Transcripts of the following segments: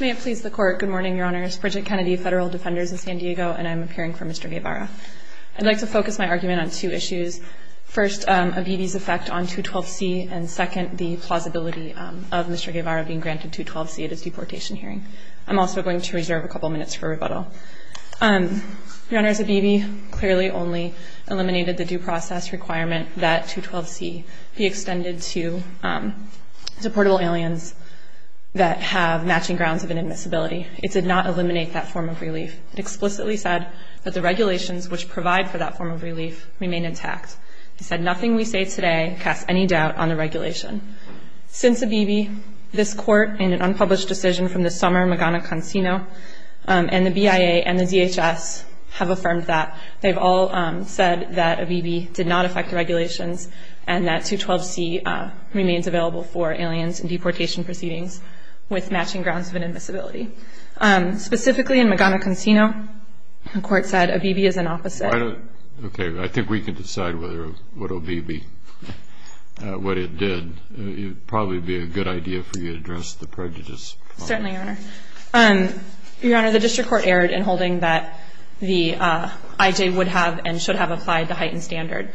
May it please the Court, good morning, Your Honors, Bridget Kennedy, Federal Defenders of San Diego, and I'm appearing for Mr. Guevara. I'd like to focus my argument on two issues. First, Abebe's effect on 212C, and second, the plausibility of Mr. Guevara being granted 212C at his deportation hearing. I'm also going to reserve a couple minutes for rebuttal. Your Honors, Abebe clearly only eliminated the due process requirement that 212C be extended to deportable aliens that have matching grounds of inadmissibility. It did not eliminate that form of relief. It explicitly said that the regulations which provide for that form of relief remain intact. It said nothing we say today casts any doubt on the regulation. Since Abebe, this Court, in an unpublished decision from this summer, Magana-Consino, and the BIA and the DHS have affirmed that. They've all said that Abebe did not affect the regulations and that 212C remains available for aliens in deportation proceedings with matching grounds of inadmissibility. Specifically in Magana-Consino, the Court said Abebe is an opposite. Why don't, okay, I think we can decide whether, what Abebe, what it did. It would probably be a good idea for you to address the prejudice. Certainly, Your Honor. Your Honor, the District Court erred in holding that the IJ would have and should have applied the heightened standard.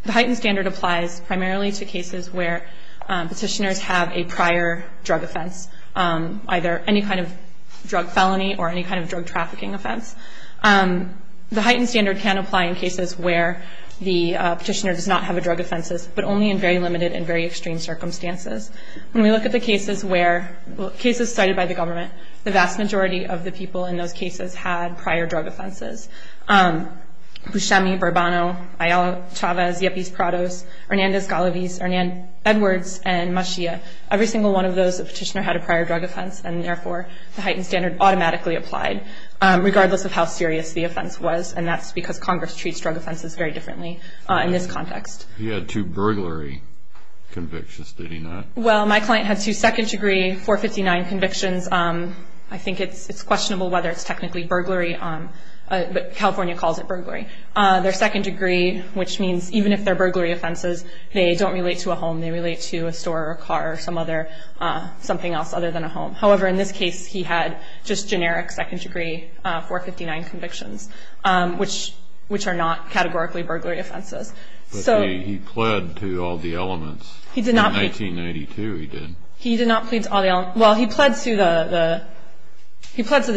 The heightened standard applies primarily to cases where Petitioners have a prior drug offense, either any kind of drug felony or any kind of drug trafficking offense. The heightened standard can apply in cases where the Petitioner does not have a drug offense, but only in very limited and very extreme circumstances. When we look at the cases where, cases cited by the government, the vast majority of the people in those cases had prior drug offenses. Buscemi, Bourbono, Ayala-Chavez, Yepes-Prados, Hernandez-Galaviz, Hernan-Edwards, and Maschia. Every single one of those, the Petitioner had a prior drug offense, and therefore, the heightened standard automatically applied. Regardless of how serious the offense was, and that's because Congress treats drug offenses very differently in this context. He had two burglary convictions, did he not? Well, my client had two second degree 459 convictions. I think it's questionable whether it's technically burglary, but California calls it burglary. They're second degree, which means even if they're burglary offenses, they don't relate to a home. They relate to a store or a car or something else other than a home. However, in this case, he had just generic second degree 459 convictions, which are not categorically burglary offenses. But he pled to all the elements. In 1982, he did. He did not plead to all the elements. Well, he pled to the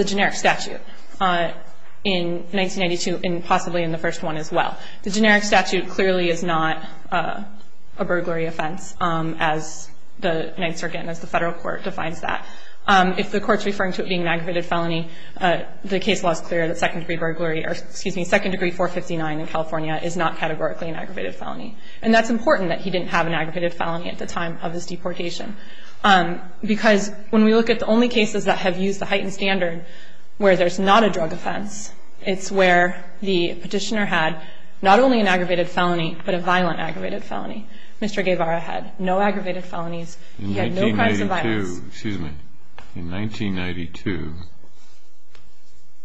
generic statute in 1992 and possibly in the first one as well. The generic statute clearly is not a burglary offense as the Ninth Circuit and as the federal court defines that. If the court's referring to it being an aggravated felony, the case law is clear that second degree burglary, or excuse me, second degree 459 in California is not categorically an aggravated felony. And that's important that he didn't have an aggravated felony at the time of his deportation, because when we look at the only cases that have used the heightened standard where there's not a drug offense, it's where the petitioner had not only an aggravated felony but a violent aggravated felony. Mr. Guevara had no aggravated felonies. He had no crimes of violence. In 1992,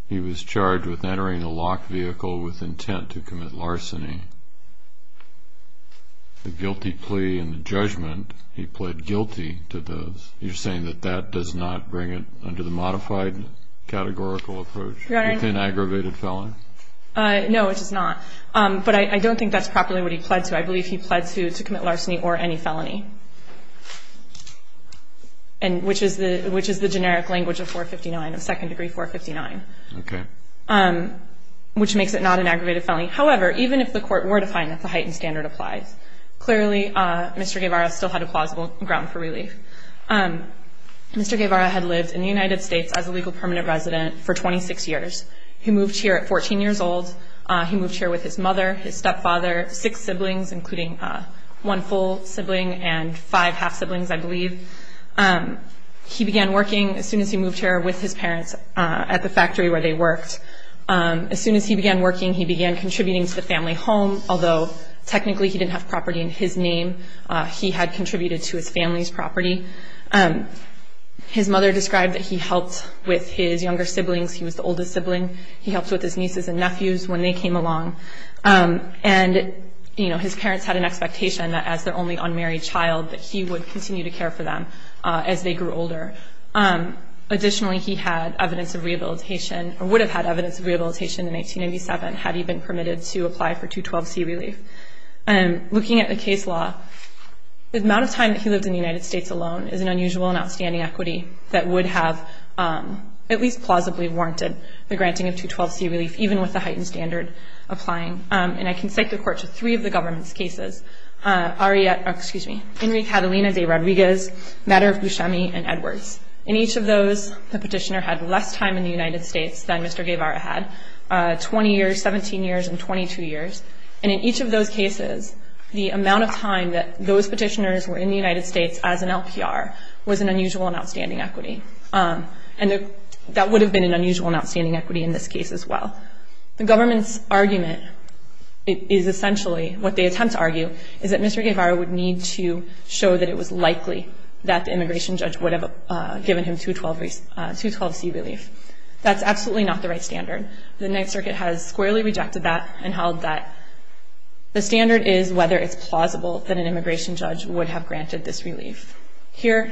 he was charged with entering a locked vehicle with intent to commit larceny. The guilty plea and the judgment, he pled guilty to those. You're saying that that does not bring it under the modified categorical approach, an aggravated felony? No, it does not. But I don't think that's properly what he pled to. I believe he pled to commit larceny or any felony, which is the generic language of 459, of second degree 459. Okay. Which makes it not an aggravated felony. However, even if the court were to find that the heightened standard applies, clearly Mr. Guevara still had a plausible ground for relief. Mr. Guevara had lived in the United States as a legal permanent resident for 26 years. He moved here at 14 years old. He moved here with his mother, his stepfather, six siblings, including one full sibling and five half siblings, I believe. He began working as soon as he moved here with his parents at the factory where they worked. As soon as he began working, he began contributing to the family home, although technically he didn't have property in his name. He had contributed to his family's property. His mother described that he helped with his younger siblings. He was the oldest sibling. He helped with his nieces and nephews when they came along. And, you know, his parents had an expectation that as their only unmarried child, that he would continue to care for them as they grew older. Additionally, he had evidence of rehabilitation, or would have had evidence of rehabilitation in 1987 had he been permitted to apply for 212C relief. Looking at the case law, the amount of time that he lived in the United States alone is an unusual and outstanding equity that would have at least plausibly warranted the granting of 212C relief, even with the heightened standard applying. And I can cite the court to three of the government's cases, Henry Catalina de Rodriguez, Matter of Buscemi, and Edwards. In each of those, the petitioner had less time in the United States than Mr. Guevara had, 20 years, 17 years, and 22 years. And in each of those cases, the amount of time that those petitioners were in the United States as an LPR was an unusual and outstanding equity. And that would have been an unusual and outstanding equity in this case as well. The government's argument is essentially, what they attempt to argue, is that Mr. Guevara would need to show that it was likely that the immigration judge would have given him 212C relief. That's absolutely not the right standard. The Ninth Circuit has squarely rejected that and held that the standard is whether it's plausible that an immigration judge would have granted this relief. Here,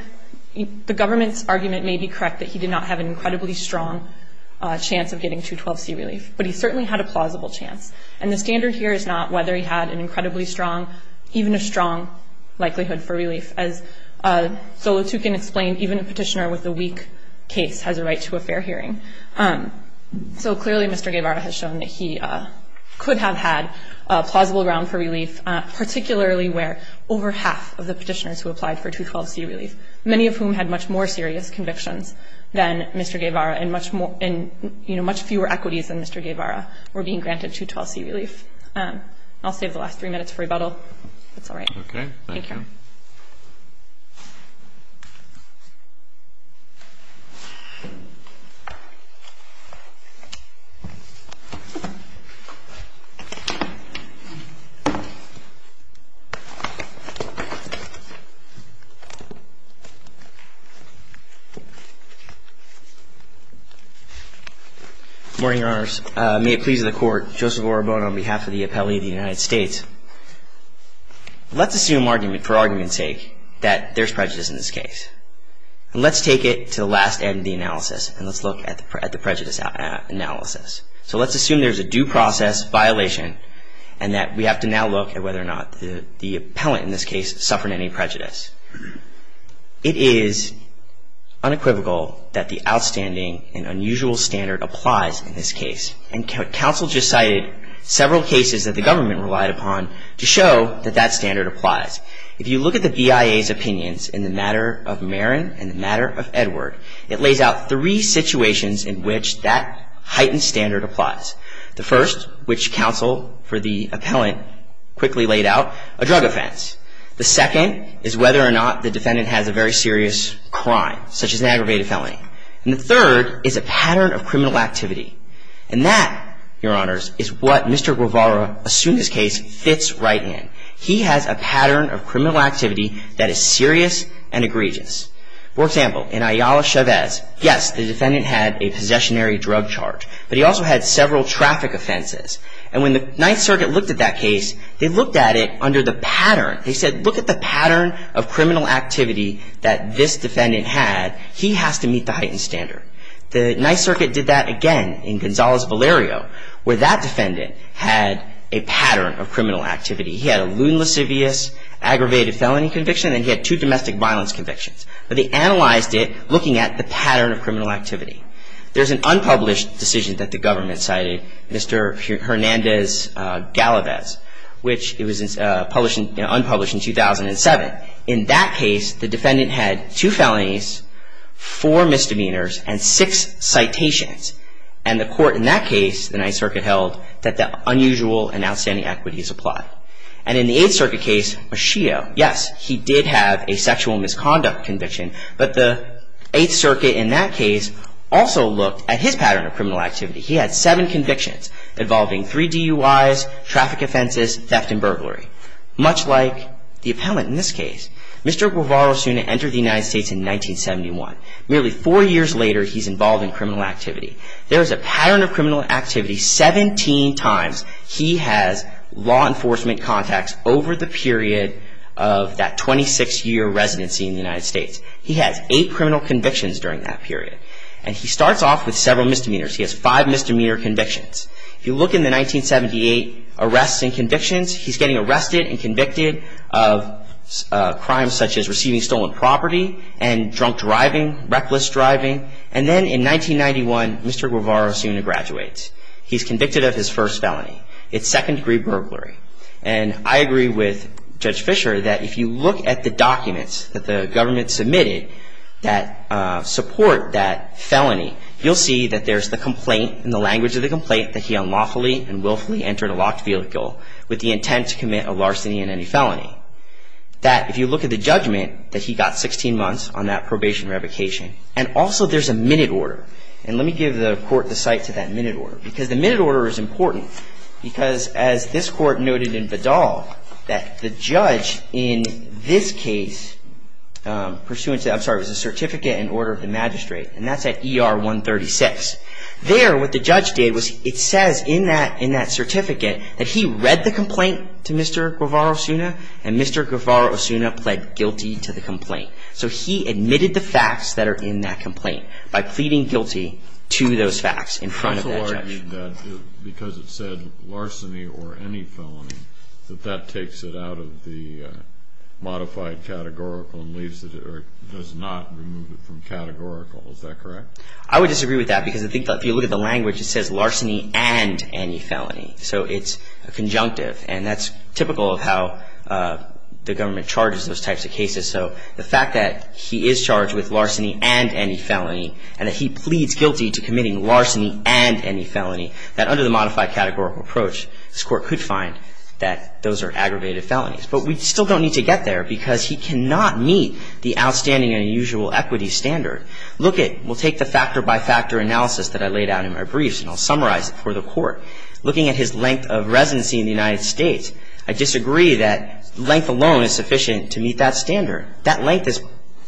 the government's argument may be correct that he did not have an incredibly strong chance of getting 212C relief, but he certainly had a plausible chance. And the standard here is not whether he had an incredibly strong, even a strong, likelihood for relief. As Zolotukhin explained, even a petitioner with a weak case has a right to a fair hearing. So clearly, Mr. Guevara has shown that he could have had plausible ground for relief, particularly where over half of the petitioners who applied for 212C relief, many of whom had much more serious convictions than Mr. Guevara and much fewer equities than Mr. Guevara, were being granted 212C relief. I'll save the last three minutes for rebuttal, if that's all right. Okay. Thank you. Good morning, Your Honors. May it please the Court, Joseph Orobono on behalf of the appellee of the United States. Let's assume for argument's sake that there's prejudice in this case. Let's take it to the last end of the analysis, and let's look at the prejudice analysis. So let's assume there's a due process violation and that we have to now look at whether or not the appellant in this case suffered any prejudice. It is unequivocal that the outstanding and unusual standard applies in this case. And counsel just cited several cases that the government relied upon to show that that standard applies. If you look at the BIA's opinions in the matter of Marin and the matter of Edward, it lays out three situations in which that heightened standard applies. The first, which counsel for the appellant quickly laid out, a drug offense. The second is whether or not the defendant has a very serious crime, such as an aggravated felony. And the third is a pattern of criminal activity. And that, Your Honors, is what Mr. Guevara assumed this case fits right in. He has a pattern of criminal activity that is serious and egregious. For example, in Ayala Chavez, yes, the defendant had a possessionary drug charge, but he also had several traffic offenses. And when the Ninth Circuit looked at that case, they looked at it under the pattern. They said, look at the pattern of criminal activity that this defendant had. He has to meet the heightened standard. The Ninth Circuit did that again in Gonzalez Valerio, where that defendant had a pattern of criminal activity. He had a lewd, lascivious, aggravated felony conviction, and he had two domestic violence convictions. But they analyzed it looking at the pattern of criminal activity. There's an unpublished decision that the government cited, Mr. Hernandez-Galavez, which was unpublished in 2007. In that case, the defendant had two felonies, four misdemeanors, and six citations. And the court in that case, the Ninth Circuit held, that the unusual and outstanding equities apply. And in the Eighth Circuit case, Machio, yes, he did have a sexual misconduct conviction. But the Eighth Circuit in that case also looked at his pattern of criminal activity. He had seven convictions involving three DUIs, traffic offenses, theft, and burglary. Much like the appellant in this case. Mr. Guevara Suna entered the United States in 1971. Merely four years later, he's involved in criminal activity. There is a pattern of criminal activity 17 times he has law enforcement contacts over the period of that 26-year residency in the United States. He has eight criminal convictions during that period. And he starts off with several misdemeanors. He has five misdemeanor convictions. If you look in the 1978 arrests and convictions, he's getting arrested and convicted of crimes such as receiving stolen property and drunk driving, reckless driving. And then in 1991, Mr. Guevara Suna graduates. He's convicted of his first felony. It's second-degree burglary. And I agree with Judge Fischer that if you look at the documents that the government submitted that support that felony, you'll see that there's the complaint and the language of the complaint that he unlawfully and willfully entered a locked vehicle with the intent to commit a larceny and any felony. That if you look at the judgment that he got 16 months on that probation revocation. And also there's a minute order. And let me give the court the sight to that minute order. Because the minute order is important. Because as this court noted in Vidal, that the judge in this case, pursuant to, I'm sorry, it was a certificate in order of the magistrate. And that's at ER 136. There what the judge did was it says in that certificate that he read the complaint to Mr. Guevara Suna and Mr. Guevara Suna pled guilty to the complaint. So he admitted the facts that are in that complaint by pleading guilty to those facts in front of that judge. I would disagree with that because it said larceny or any felony. That that takes it out of the modified categorical and leaves it or does not remove it from categorical. Is that correct? I would disagree with that because if you look at the language, it says larceny and any felony. So it's a conjunctive. And that's typical of how the government charges those types of cases. So the fact that he is charged with larceny and any felony and that he pleads guilty to committing larceny and any felony, that under the modified categorical approach, this court could find that those are aggravated felonies. But we still don't need to get there because he cannot meet the outstanding and unusual equity standard. Look at, we'll take the factor-by-factor analysis that I laid out in my briefs and I'll summarize it for the court. Looking at his length of residency in the United States, I disagree that length alone is sufficient to meet that standard. That length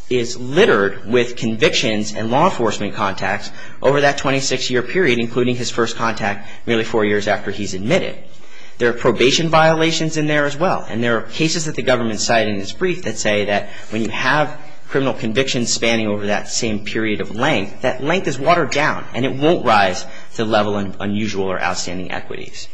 is littered with convictions and law enforcement contacts over that 26-year period including his first contact nearly four years after he's admitted. There are probation violations in there as well and there are cases that the government cited in its brief that say that when you have criminal convictions spanning over that same period of length, that length is watered down and it won't rise to the level of unusual or outstanding equities.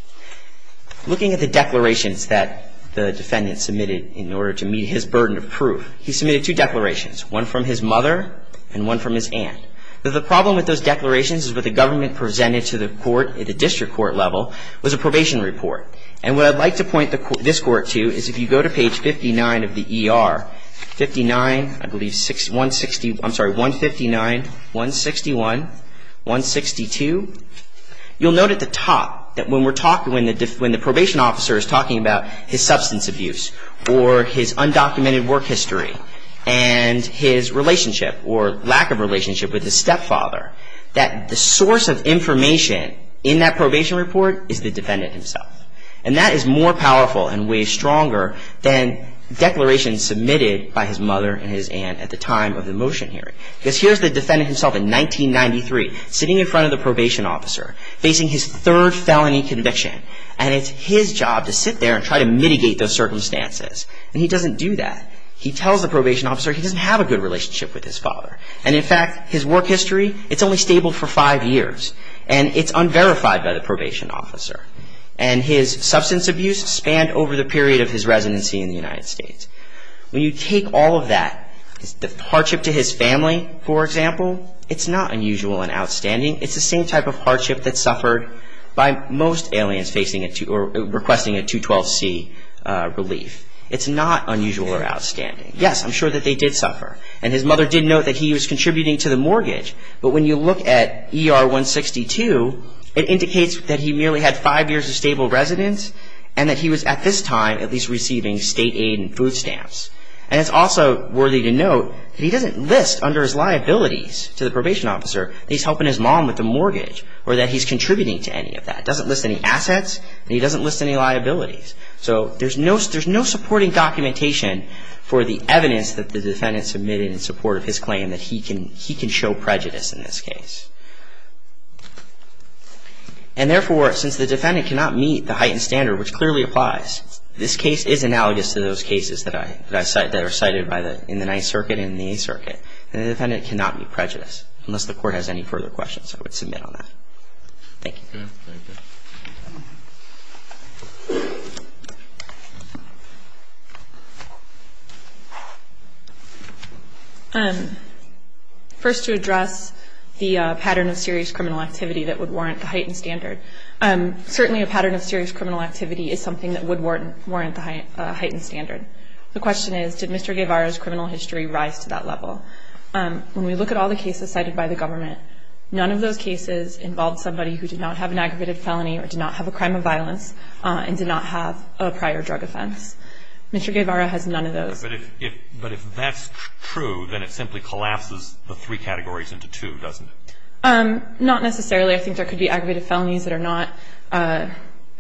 Looking at the declarations that the defendant submitted in order to meet his burden of proof, he submitted two declarations, one from his mother and one from his aunt. The problem with those declarations is what the government presented to the court at the district court level was a probation report. And what I'd like to point this court to is if you go to page 59 of the ER, 59, I believe 161, I'm sorry, 159, 161, 162, you'll note at the top that when we're talking, when the probation officer is talking about his substance abuse or his undocumented work history and his relationship or lack of relationship with his stepfather, that the source of information in that probation report is the defendant himself. And that is more powerful and way stronger than declarations submitted by his mother and his aunt at the time of the motion hearing. Because here's the defendant himself in 1993 sitting in front of the probation officer facing his third felony conviction and it's his job to sit there and try to mitigate those circumstances. And he doesn't do that. He tells the probation officer he doesn't have a good relationship with his father. And in fact, his work history, it's only stable for five years. And it's unverified by the probation officer. And his substance abuse spanned over the period of his residency in the United States. When you take all of that, the hardship to his family, for example, it's not unusual and outstanding. It's the same type of hardship that's suffered by most aliens requesting a 212C relief. It's not unusual or outstanding. Yes, I'm sure that they did suffer. And his mother did note that he was contributing to the mortgage. But when you look at ER 162, it indicates that he merely had five years of stable residence and that he was at this time at least receiving state aid and food stamps. And it's also worthy to note that he doesn't list under his liabilities to the probation officer that he's helping his mom with the mortgage or that he's contributing to any of that. He doesn't list any assets, and he doesn't list any liabilities. So there's no supporting documentation for the evidence that the defendant submitted in support of his claim that he can show prejudice in this case. And therefore, since the defendant cannot meet the heightened standard, which clearly applies, this case is analogous to those cases that are cited in the Ninth Circuit and the Eighth Circuit. And the defendant cannot meet prejudice, unless the court has any further questions. I would submit on that. Thank you. First, to address the pattern of serious criminal activity that would warrant the heightened standard. Certainly a pattern of serious criminal activity is something that would warrant the heightened standard. The question is, did Mr. Guevara's criminal history rise to that level? When we look at all the cases cited by the government, none of those cases involved somebody who did not have an aggravated felony or did not have a crime of violence and did not have a prior drug offense. Mr. Guevara has none of those. But if that's true, then it simply collapses the three categories into two, doesn't it? Not necessarily. I think there could be aggravated felonies that are not, I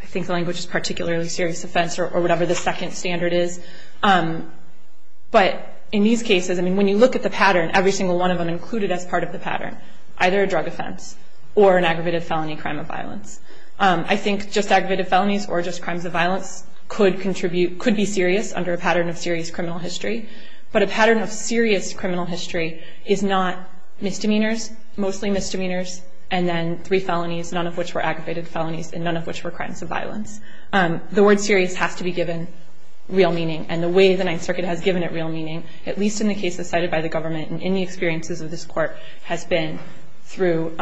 think the language is particularly serious offense or whatever the second standard is. But in these cases, I mean, when you look at the pattern, every single one of them included as part of the pattern, either a drug offense or an aggravated felony crime of violence. I think just aggravated felonies or just crimes of violence could contribute, could be serious under a pattern of serious criminal history. But a pattern of serious criminal history is not misdemeanors, mostly misdemeanors, and then three felonies, none of which were aggravated felonies and none of which were crimes of violence. The word serious has to be given real meaning, and the way the Ninth Circuit has given it real meaning, at least in the cases cited by the government and in the experiences of this court, has been through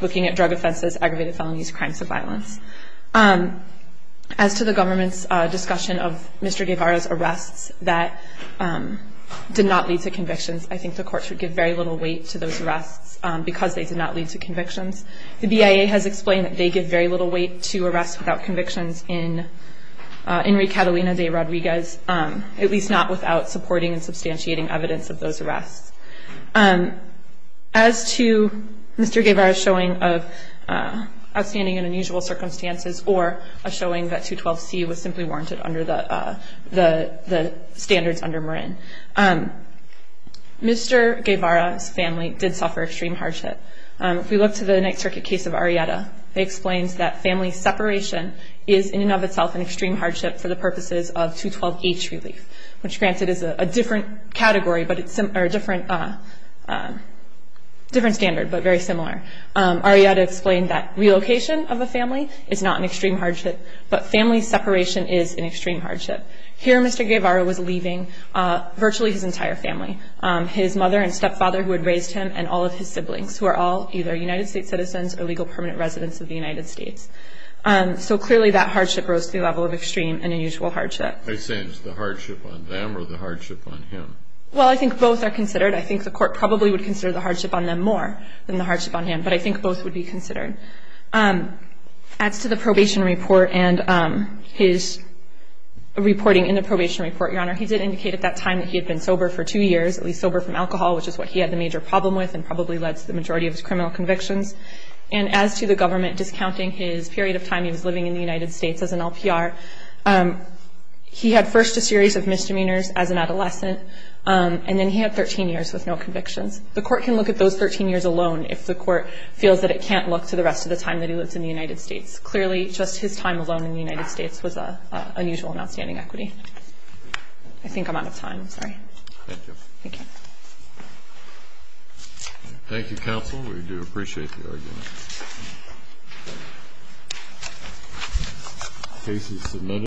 looking at drug offenses, aggravated felonies, crimes of violence. As to the government's discussion of Mr. Guevara's arrests that did not lead to convictions, I think the courts would give very little weight to those arrests because they did not lead to convictions. The BIA has explained that they give very little weight to arrests without convictions in Enrique Catalina de Rodriguez, at least not without supporting and substantiating evidence of those arrests. As to Mr. Guevara's showing of outstanding and unusual circumstances or a showing that 212C was simply warranted under the standards under Marin, Mr. Guevara's family did suffer extreme hardship. If we look to the Ninth Circuit case of Arrieta, it explains that family separation is, in and of itself, an extreme hardship for the purposes of 212H relief, which granted is a different standard but very similar. Arrieta explained that relocation of a family is not an extreme hardship, but family separation is an extreme hardship. Here Mr. Guevara was leaving virtually his entire family, his mother and stepfather who had raised him, and all of his siblings, who are all either United States citizens or legal permanent residents of the United States. So clearly that hardship rose to the level of extreme and unusual hardship. Are you saying it's the hardship on them or the hardship on him? Well, I think both are considered. I think the court probably would consider the hardship on them more than the hardship on him, but I think both would be considered. As to the probation report and his reporting in the probation report, Your Honor, he did indicate at that time that he had been sober for two years, at least sober from alcohol, which is what he had the major problem with and probably led to the majority of his criminal convictions. And as to the government discounting his period of time he was living in the United States as an LPR, he had first a series of misdemeanors as an adolescent, and then he had 13 years with no convictions. The court can look at those 13 years alone if the court feels that it can't look to the rest of the time that he lived in the United States. Clearly, just his time alone in the United States was unusual and outstanding equity. I think I'm out of time. Sorry. Thank you. Thank you. Thank you, counsel. We do appreciate the argument. Case is submitted.